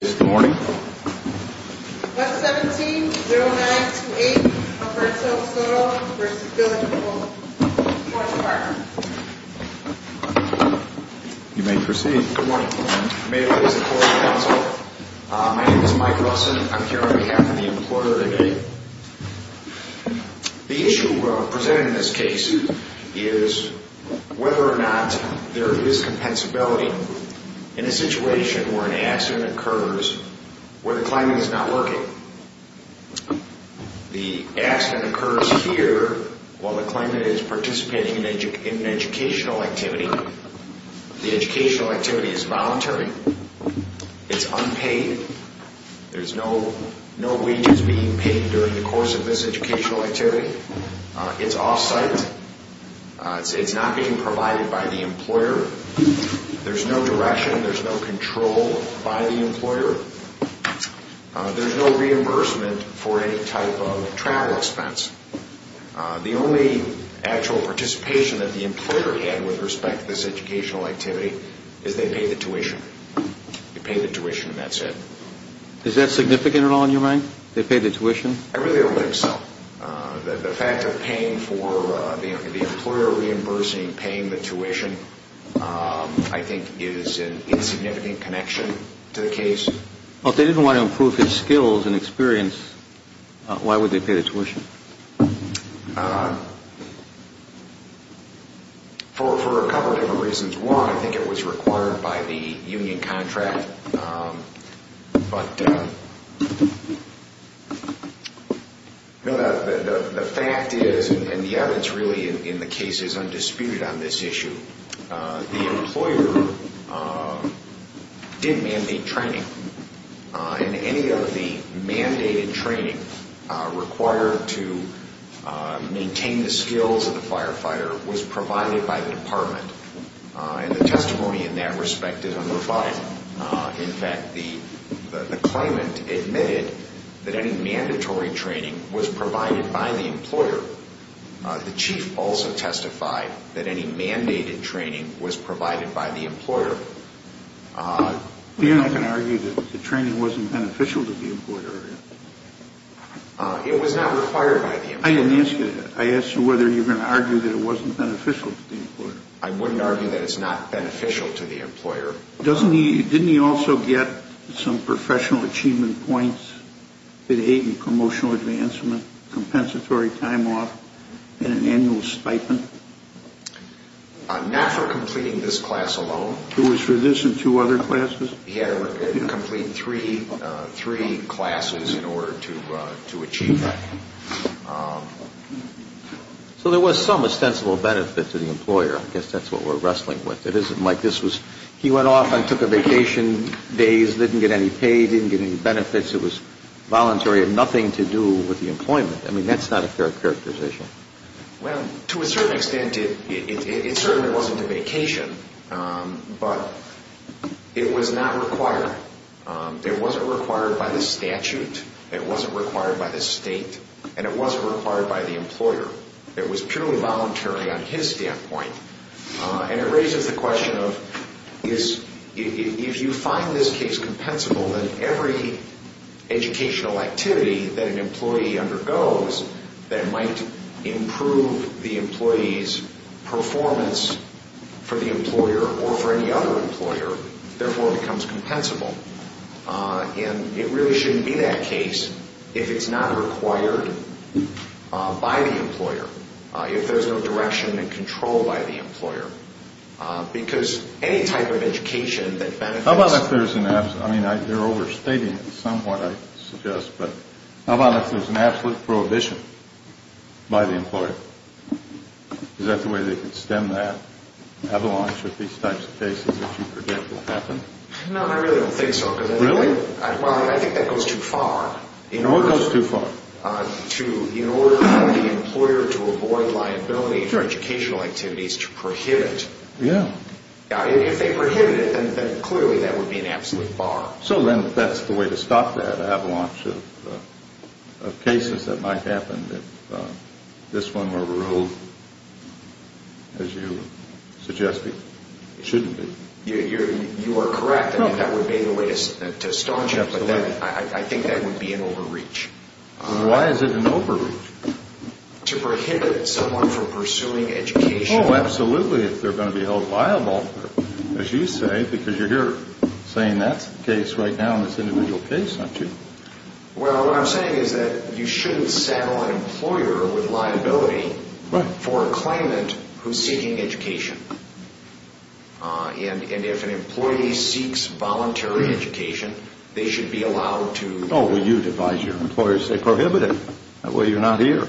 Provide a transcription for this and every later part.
Good morning. 117-0928 Alberto Soto v. Village of Park Forest Park You may proceed. Good morning. May it please the Court and Counsel. My name is Mike Russin. I'm here on behalf of the Employer of the Day. The issue presented in this case is whether or not there is compensability in a situation where an accident occurs where the climate is not working. The accident occurs here while the climate is participating in an educational activity. The educational activity is voluntary. It's unpaid. There's no wages being paid during the course of this educational activity. It's off-site. It's not being provided by the employer. There's no direction. There's no control by the employer. There's no reimbursement for any type of travel expense. The only actual participation that the employer had with respect to this educational activity is they paid the tuition. They paid the tuition and that's it. Is that significant at all in your mind? They paid the tuition? I really don't think so. The fact of paying for the employer reimbursing, paying the tuition, I think is an insignificant connection to the case. If they didn't want to improve their skills and experience, why would they pay the tuition? For a couple of different reasons. One, I think it was required by the union contract. The fact is, and the evidence really in the case is undisputed on this issue, the employer didn't mandate training. And any of the mandated training required to maintain the skills of the firefighter was provided by the department. And the testimony in that respect is unrefined. In fact, the claimant admitted that any mandatory training was provided by the employer. The chief also testified that any mandated training was provided by the employer. You're not going to argue that the training wasn't beneficial to the employer, are you? It was not required by the employer. I didn't ask you that. I asked you whether you were going to argue that it wasn't beneficial to the employer. I wouldn't argue that it's not beneficial to the employer. Didn't he also get some professional achievement points? Did he get a promotional advancement, compensatory time off, and an annual stipend? Not for completing this class alone. It was for this and two other classes? He had to complete three classes in order to achieve that. So there was some ostensible benefit to the employer. I guess that's what we're wrestling with. He went off and took a vacation days, didn't get any paid, didn't get any benefits. It was voluntary, had nothing to do with the employment. I mean, that's not a fair characterization. Well, to a certain extent, it certainly wasn't a vacation. But it was not required. It wasn't required by the statute. It wasn't required by the state. And it wasn't required by the employer. It was purely voluntary on his standpoint. And it raises the question of, if you find this case compensable, then every educational activity that an employee undergoes that might improve the employee's performance for the employer or for any other employer, therefore becomes compensable. And it really shouldn't be that case if it's not required by the employer. If there's no direction and control by the employer. Because any type of education that benefits... How about if there's an... I mean, they're overstating it somewhat, I suggest. But how about if there's an absolute prohibition by the employer? Is that the way they could stem that? Avalanche with these types of cases that you predict will happen? No, I really don't think so. Really? Well, I think that goes too far. What goes too far? In order for the employer to avoid liability for educational activities to prohibit... Yeah. If they prohibit it, then clearly that would be an absolute bar. So then that's the way to stop that avalanche of cases that might happen if this one were ruled, as you suggested, shouldn't be. You are correct that that would be the way to stop it. But I think that would be an overreach. Why is it an overreach? To prohibit someone from pursuing education. Oh, absolutely, if they're going to be held liable, as you say. Because you're here saying that's the case right now in this individual case, aren't you? Well, what I'm saying is that you shouldn't saddle an employer with liability for a claimant who's seeking education. And if an employee seeks voluntary education, they should be allowed to... Oh, well, you'd advise your employer to say prohibit it. That way you're not here.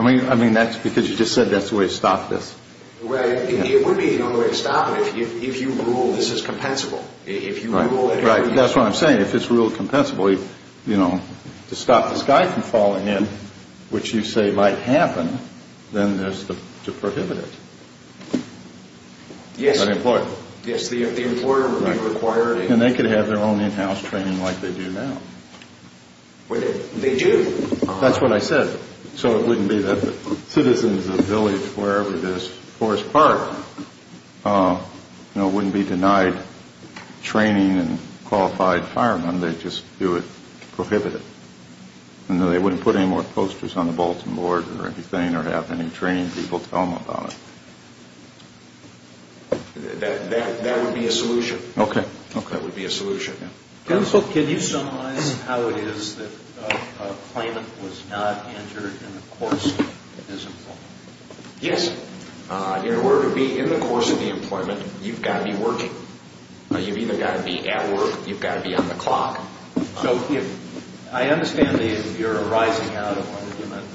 I mean, that's because you just said that's the way to stop this. Well, it would be the only way to stop it if you ruled this is compensable. Right, that's what I'm saying. If it's ruled compensably, you know, to stop this guy from falling in, which you say might happen, then there's to prohibit it. Yes, the employer would be required... And they could have their own in-house training like they do now. They do. That's what I said. So it wouldn't be that the citizens of the village, wherever it is, Forest Park, you know, wouldn't be denied training and qualified firemen. They'd just do it to prohibit it. They wouldn't put any more posters on the Bolton board or anything or have any training people tell them about it. That would be a solution. Okay. That would be a solution. Counsel, can you summarize how it is that a claimant was not entered in the course of his employment? Yes. In order to be in the course of the employment, you've got to be working. You've either got to be at work or you've got to be on the clock. So I understand that you're arising out of an agreement,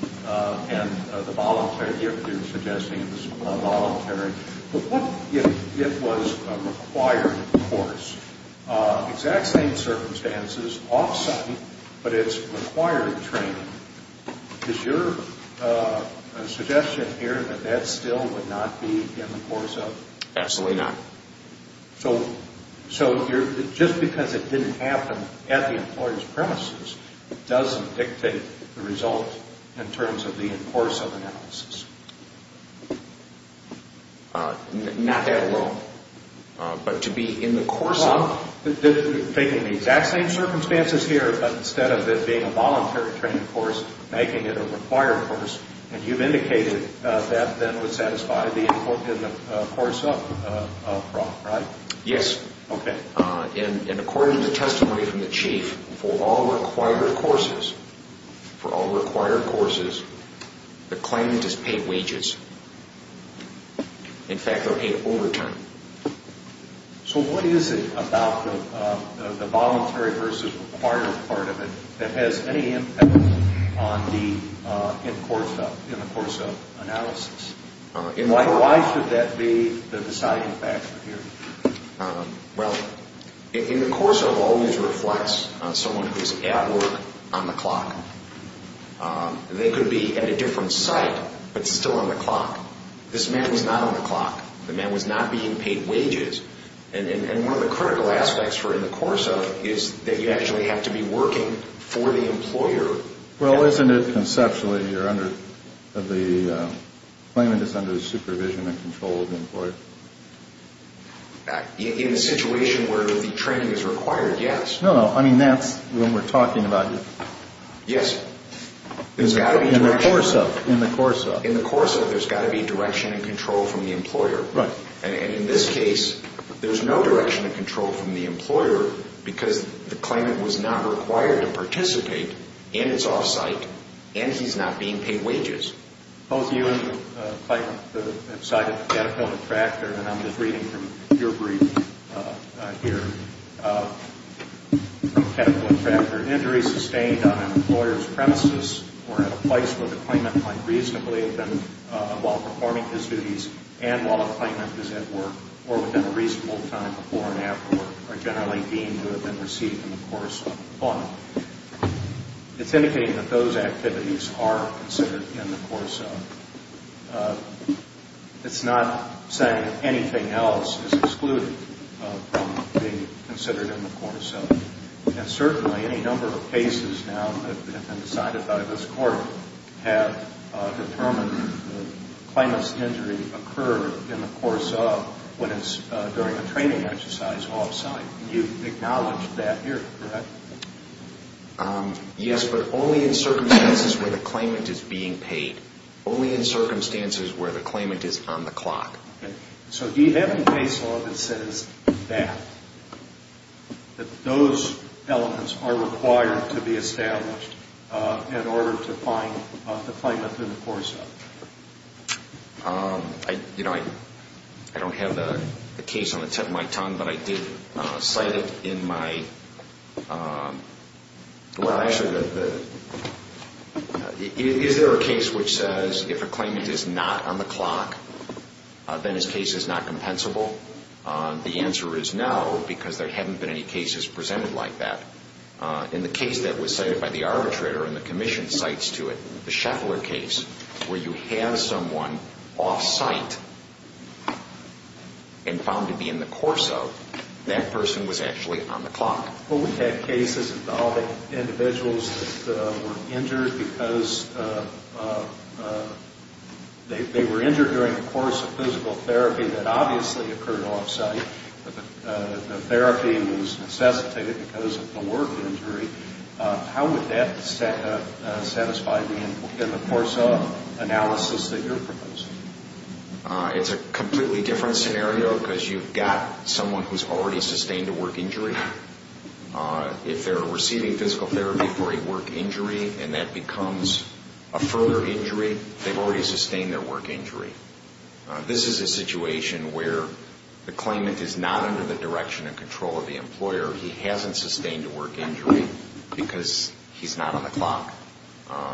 and the voluntary gift you're suggesting is voluntary. But what if it was a required course, exact same circumstances, off-site, but it's required training? Is your suggestion here that that still would not be in the course of...? Absolutely not. So just because it didn't happen at the employer's premises doesn't dictate the result in terms of the in course of analysis. Not that at all. But to be in the course of...? Well, you're taking the exact same circumstances here, but instead of it being a voluntary training course, making it a required course, and you've indicated that then would satisfy the in course of fraud, right? Yes. Okay. And according to the testimony from the chief, for all required courses, for all required courses, the claimant is paid wages. In fact, they're paid overturn. So what is it about the voluntary versus required part of it that has any impact on the in course of analysis? Why should that be the deciding factor here? Well, in the course of always reflects on someone who's at work, on the clock. They could be at a different site, but still on the clock. This man was not on the clock. The man was not being paid wages. And one of the critical aspects for in the course of is that you actually have to be working for the employer. Well, isn't it conceptually you're under, the claimant is under the supervision and control of the employer? In a situation where the training is required, yes. No, no. I mean, that's when we're talking about... Yes. In the course of. In the course of. In the course of, there's got to be direction and control from the employer. Right. And in this case, there's no direction and control from the employer because the claimant was not required to participate, and it's off-site, and he's not being paid wages. Both you and the claimant have cited the pedicle and tractor, and I'm just reading from your brief here. Pedicle and tractor injuries sustained on an employer's premises or at a place where the claimant might reasonably have been while performing his duties and while a claimant is at work or within a reasonable time before and after work are generally deemed to have been received in the course of employment. It's indicating that those activities are considered in the course of. It's not saying that anything else is excluded from being considered in the course of. And certainly, any number of cases now that have been decided by this Court have determined the claimant's injury occurred in the course of when it's during a training exercise off-site. You've acknowledged that here, correct? Yes, but only in circumstances where the claimant is being paid. Only in circumstances where the claimant is on the clock. Okay. So you have a case law that says that, that those elements are required to be established in order to find the claimant in the course of. You know, I don't have the case on the tip of my tongue, but I did cite it in my, well, actually, is there a case which says if a claimant is not on the clock, then his case is not compensable? The answer is no, because there haven't been any cases presented like that. In the case that was cited by the arbitrator and the commission cites to it, the Scheffler case, where you have someone off-site and found to be in the course of, that person was actually on the clock. Well, we've had cases involving individuals that were injured because they were injured during the course of physical therapy that obviously occurred off-site. The therapy was necessitated because of the work injury. How would that satisfy in the course of analysis that you're proposing? It's a completely different scenario, because you've got someone who's already sustained a work injury. If they're receiving physical therapy for a work injury, and that becomes a further injury, they've already sustained their work injury. This is a situation where the claimant is not under the direction and control of the employer. He hasn't sustained a work injury because he's not on the clock.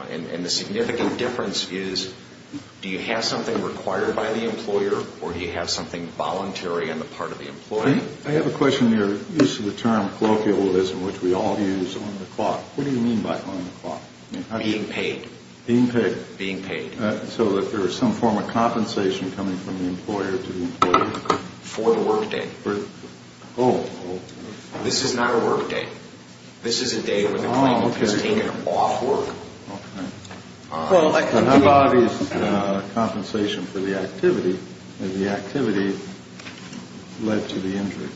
And the significant difference is do you have something required by the employer or do you have something voluntary on the part of the employer? I have a question on your use of the term colloquialism, which we all use, on the clock. What do you mean by on the clock? Being paid. Being paid. Being paid. So that there is some form of compensation coming from the employer to the employer? For the work day. Oh. This is not a work day. This is a day when the claimant has taken off work. Okay. Well, that could be... How about his compensation for the activity? Had the activity led to the injury?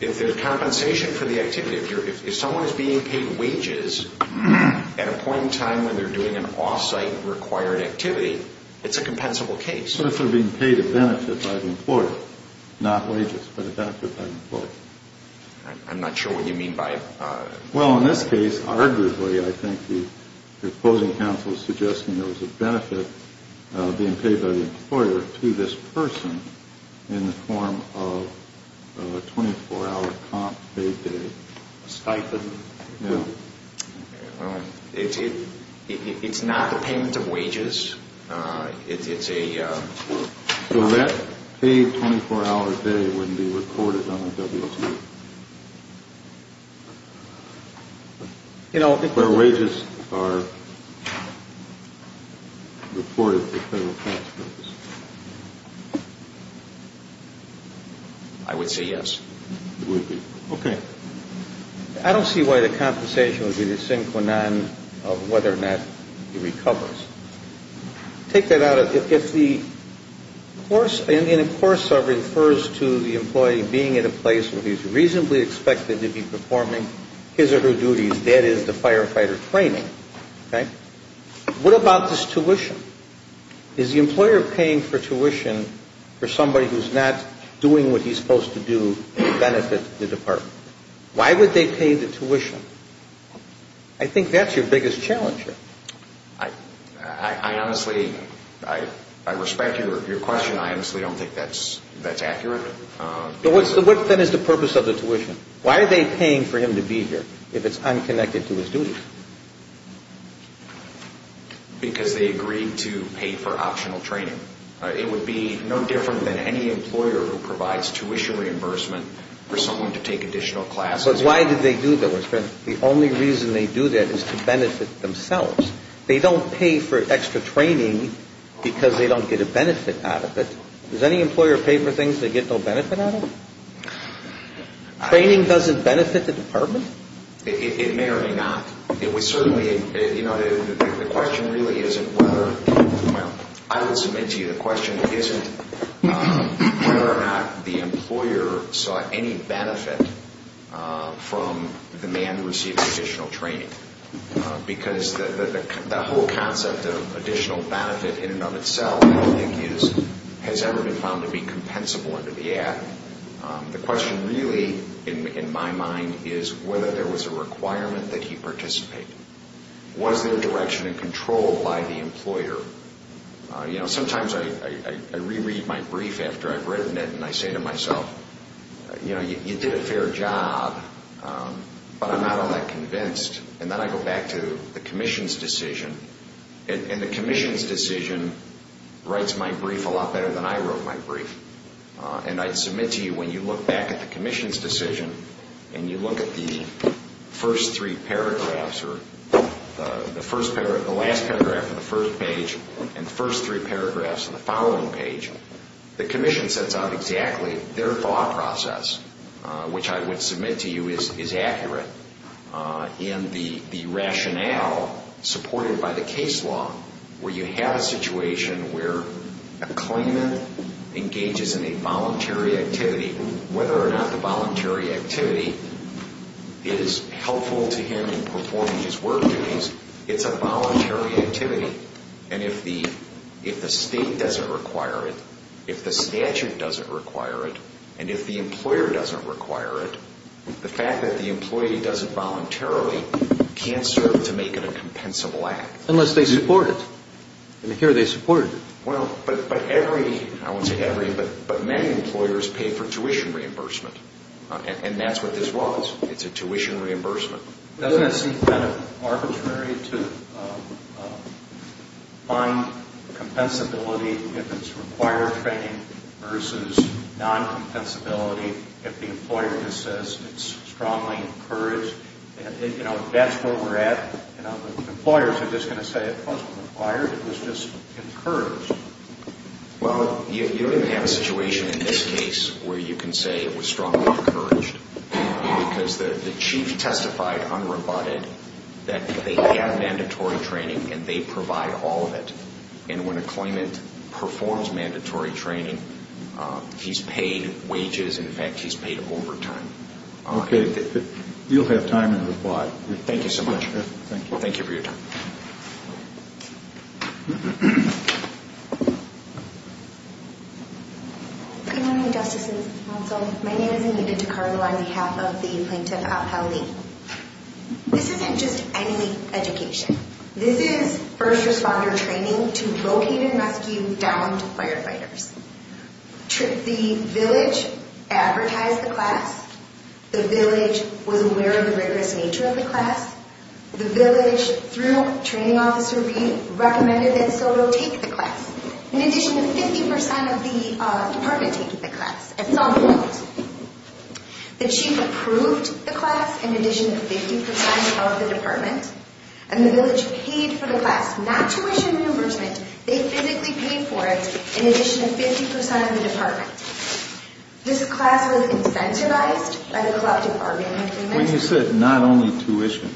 If there's compensation for the activity, if someone is being paid wages at a point in time when they're doing an off-site required activity, it's a compensable case. So if they're being paid a benefit by the employer, not wages, but a benefit by the employer. I'm not sure what you mean by... Well, in this case, arguably, I think the opposing counsel is suggesting there was a benefit being paid by the employer to this person in the form of a 24-hour comp payday. A stipend. Yeah. It's not a payment of wages. It's a... So that paid 24-hour day wouldn't be recorded on the WTO. You know... Where wages are recorded for federal tax purposes. I would say yes. You would be. Okay. I don't see why the compensation would be the synchronon of whether or not he recovers. Take that out of... And, of course, it refers to the employee being at a place where he's reasonably expected to be performing his or her duties, that is, the firefighter training. What about this tuition? Is the employer paying for tuition for somebody who's not doing what he's supposed to do to benefit the department? Why would they pay the tuition? I think that's your biggest challenge here. I honestly... I respect your question. I honestly don't think that's accurate. But what, then, is the purpose of the tuition? Why are they paying for him to be here if it's unconnected to his duties? Because they agreed to pay for optional training. It would be no different than any employer who provides tuition reimbursement for someone to take additional classes. But why did they do that? The only reason they do that is to benefit themselves. They don't pay for extra training because they don't get a benefit out of it. Does any employer pay for things they get no benefit out of? Training doesn't benefit the department? It may or may not. It would certainly... You know, the question really isn't whether... Well, I will submit to you the question isn't whether or not the employer saw any benefit from the man receiving additional training. Because the whole concept of additional benefit in and of itself, I don't think, has ever been found to be compensable under the Act. The question really, in my mind, is whether there was a requirement that he participate. Was there direction and control by the employer? You know, sometimes I reread my brief after I've written it and I say to myself, you know, you did a fair job, but I'm not all that convinced. And then I go back to the Commission's decision, and the Commission's decision writes my brief a lot better than I wrote my brief. And I submit to you when you look back at the Commission's decision and you look at the first three paragraphs or the last paragraph of the first page and the first three paragraphs of the following page, the Commission sets out exactly their thought process, which I would submit to you is accurate. And the rationale supported by the case law where you have a situation where a claimant engages in a voluntary activity, whether or not the voluntary activity is helpful to him in performing his work duties, it's a voluntary activity. And if the state doesn't require it, if the statute doesn't require it, and if the employer doesn't require it, the fact that the employee doesn't voluntarily can't serve to make it a compensable act. Unless they support it. And here they support it. Well, but every, I won't say every, but many employers pay for tuition reimbursement. And that's what this was. It's a tuition reimbursement. Doesn't it seem kind of arbitrary to find compensability if it's required training versus non-compensability if the employer just says it's strongly encouraged? That's where we're at. Employers are just going to say it wasn't required, it was just encouraged. Well, you're going to have a situation in this case where you can say it was strongly encouraged because the chief testified unrobotted that they had mandatory training and they provide all of it. And when a claimant performs mandatory training, he's paid wages. In fact, he's paid overtime. Okay. You'll have time to reply. Thank you so much. Thank you. Thank you for your time. Good morning, Justice and counsel. My name is Anita DeCarlo on behalf of the plaintiff, Abha Ali. This isn't just any education. This is first responder training to locate and rescue downed firefighters. The village advertised the class. The village was aware of the rigorous nature of the class. The village, through a training officer, recommended that Soto take the class. In addition, 50% of the department take the class at some point. The chief approved the class in addition to 50% of the department. And the village paid for the class, not tuition reimbursement. They physically paid for it in addition to 50% of the department. This class was incentivized by the collective bargaining agreement. When you said not only tuition,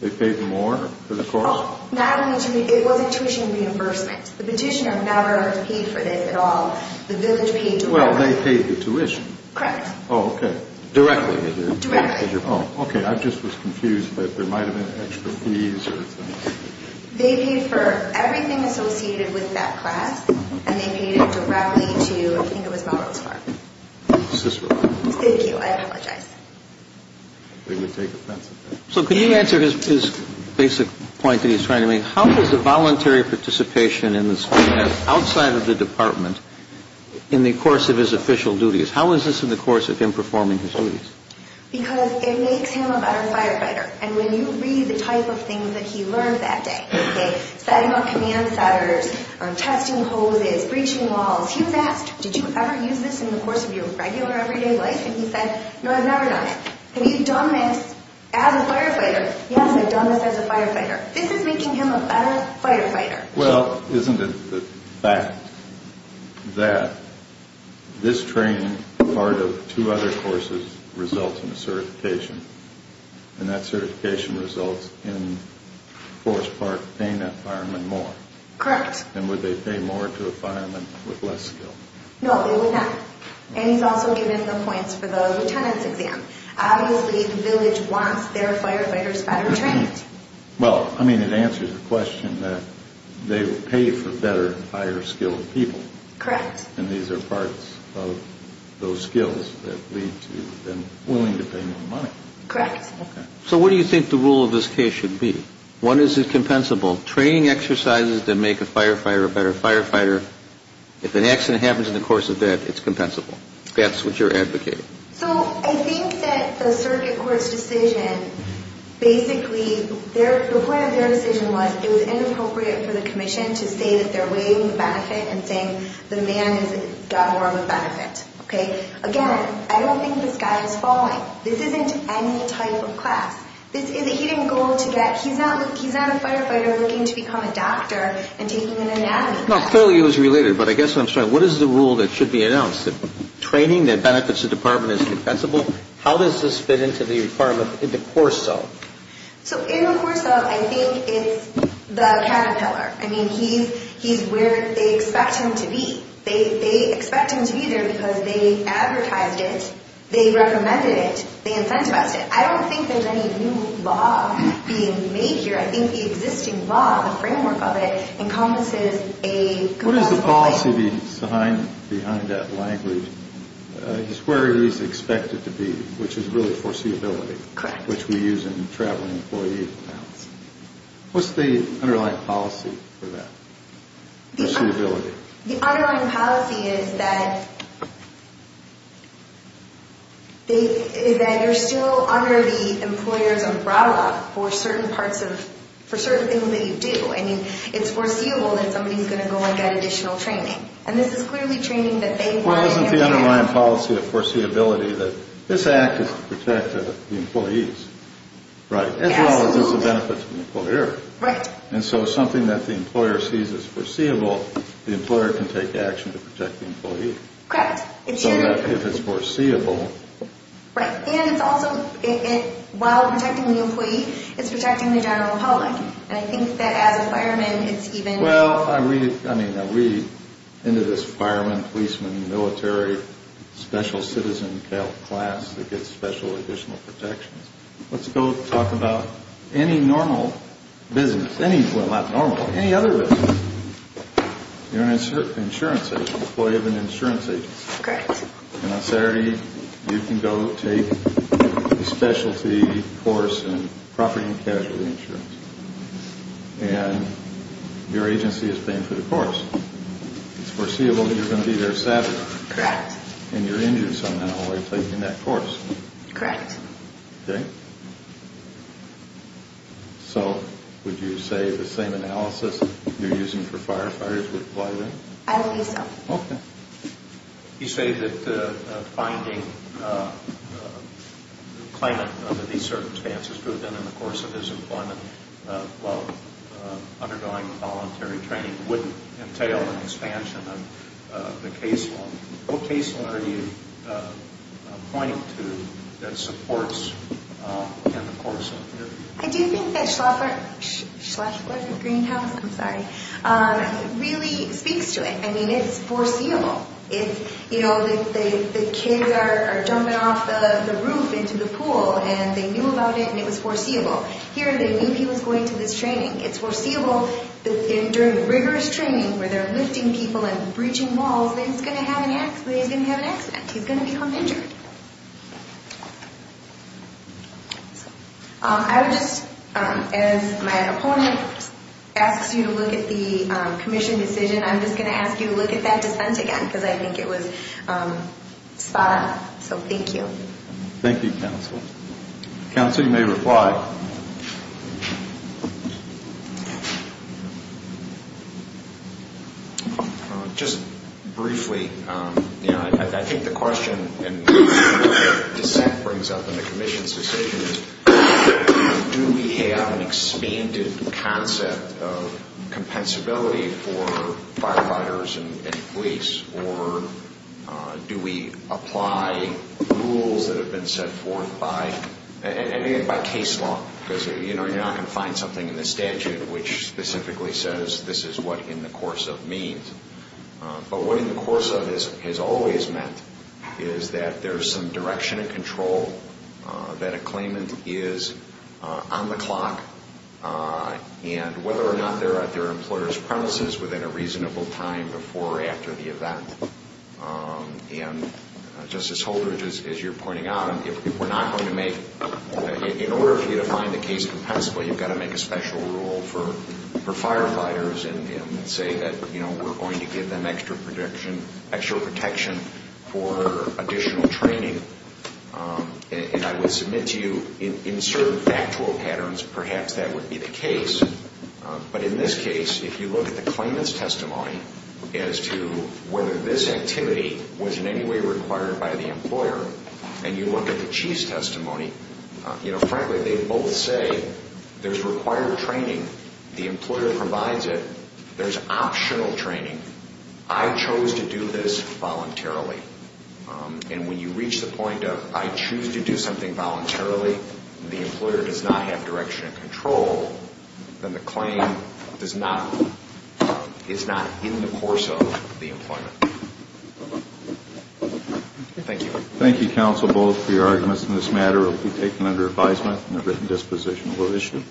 they paid more for the course? It wasn't tuition reimbursement. The petitioner never paid for this at all. The village paid directly. Well, they paid the tuition. Correct. Oh, okay. Directly, they did. Directly. Oh, okay. I just was confused that there might have been extra fees or something. They paid for everything associated with that class. And they paid it directly to, I think it was Melrose Park. Cicero Park. Thank you. I apologize. They would take offense at that. So can you answer his basic point that he's trying to make? How is the voluntary participation in this class outside of the department in the course of his official duties? How is this in the course of him performing his duties? Because it makes him a better firefighter. And when you read the type of things that he learned that day, okay, setting up command centers, testing hoses, breaching walls, he was asked, did you ever use this in the course of your regular everyday life? And he said, no, I've never done it. Have you done this as a firefighter? Yes, I've done this as a firefighter. This is making him a better firefighter. Well, isn't it the fact that this training part of two other courses results in a certification, and that certification results in Forest Park paying that fireman more? Correct. And would they pay more to a fireman with less skill? No, they would not. And he's also given the points for the lieutenant's exam. Obviously, the village wants their firefighters better trained. Well, I mean, it answers the question that they pay for better, higher skilled people. Correct. And these are parts of those skills that lead to them willing to pay more money. Correct. So what do you think the rule of this case should be? One, is it compensable? Training exercises to make a firefighter a better firefighter. If an accident happens in the course of that, it's compensable. That's what you're advocating. So I think that the circuit court's decision basically, the point of their decision was it was inappropriate for the commission to say that they're waiving the benefit and saying the man has gotten more of a benefit. Again, I don't think this guy is falling. This isn't any type of class. This is a hidden goal to get. He's not a firefighter looking to become a doctor and taking an anatomy class. No, clearly it was related. But I guess what I'm saying, what is the rule that should be announced? Training that benefits the department is compensable? How does this fit into the requirement in the course of? So in the course of, I think it's the caterpillar. I mean, he's where they expect him to be. They expect him to be there because they advertised it, they recommended it, they incentivized it. I don't think there's any new law being made here. I think the existing law, the framework of it, encompasses a compensable rate. What is the policy behind that language? He's where he's expected to be, which is really foreseeability. Correct. Which we use in traveling employee accounts. What's the underlying policy for that, foreseeability? The underlying policy is that you're still under the employer's umbrella for certain things that you do. I mean, it's foreseeable that somebody's going to go and get additional training. And this is clearly training that they want. Well, isn't the underlying policy of foreseeability that this act is to protect the employees? Right. As well as it's a benefit to the employer. Right. And so something that the employer sees as foreseeable, the employer can take action to protect the employee. Correct. So that if it's foreseeable... Right. And it's also, while protecting the employee, it's protecting the general public. And I think that as a fireman, it's even... Well, I read into this fireman, policeman, military, special citizen class that gets special additional protections. Let's go talk about any normal business. Well, not normal, any other business. You're an insurance agent, employee of an insurance agency. Correct. And on Saturday, you can go take a specialty course in property and casualty insurance. And your agency is paying for the course. It's foreseeable that you're going to be there Saturday. Correct. And you're injured somehow while you're taking that course. Correct. Okay. So would you say the same analysis you're using for firefighters would apply there? I would say so. Okay. You say that finding a claimant under these circumstances, put them in the course of his employment while undergoing voluntary training, wouldn't entail an expansion of the case law. What case law are you pointing to that supports the course of the interview? I do think that Schleswig-Greenhouse, I'm sorry, really speaks to it. I mean, it's foreseeable. You know, the kids are jumping off the roof into the pool, and they knew about it, and it was foreseeable. Here, they knew he was going to this training. It's foreseeable that during rigorous training where they're lifting people and bridging walls, he's going to have an accident. He's going to become injured. I would just, as my opponent asks you to look at the commission decision, I'm just going to ask you to look at that dissent again because I think it was spot on. So thank you. Thank you, counsel. Counsel, you may reply. Just briefly, you know, I think the question and what the dissent brings up in the commission's decision is, do we have an expanded concept of compensability for firefighters and police, or do we apply rules that have been set forth by case law because, you know, you're not going to find something in the statute which specifically says this is what in the course of means. But what in the course of has always meant is that there's some direction of control, that a claimant is on the clock, and whether or not they're at their employer's premises within a reasonable time before or after the event. And, Justice Holdridge, as you're pointing out, if we're not going to make, in order for you to find the case compensable, you've got to make a special rule for firefighters and say that, you know, we're going to give them extra protection for additional training. And I would submit to you, in certain factual patterns, perhaps that would be the case. But in this case, if you look at the claimant's testimony as to whether this activity was in any way required by the employer, and you look at the chief's testimony, you know, frankly, they both say there's required training. The employer provides it. There's optional training. I chose to do this voluntarily. And when you reach the point of I choose to do something voluntarily, and the employer does not have direction and control, then the claim is not in the course of the employment. Thank you. Thank you, counsel, both, for your arguments in this matter. It will be taken under advisement, and a written disposition will issue.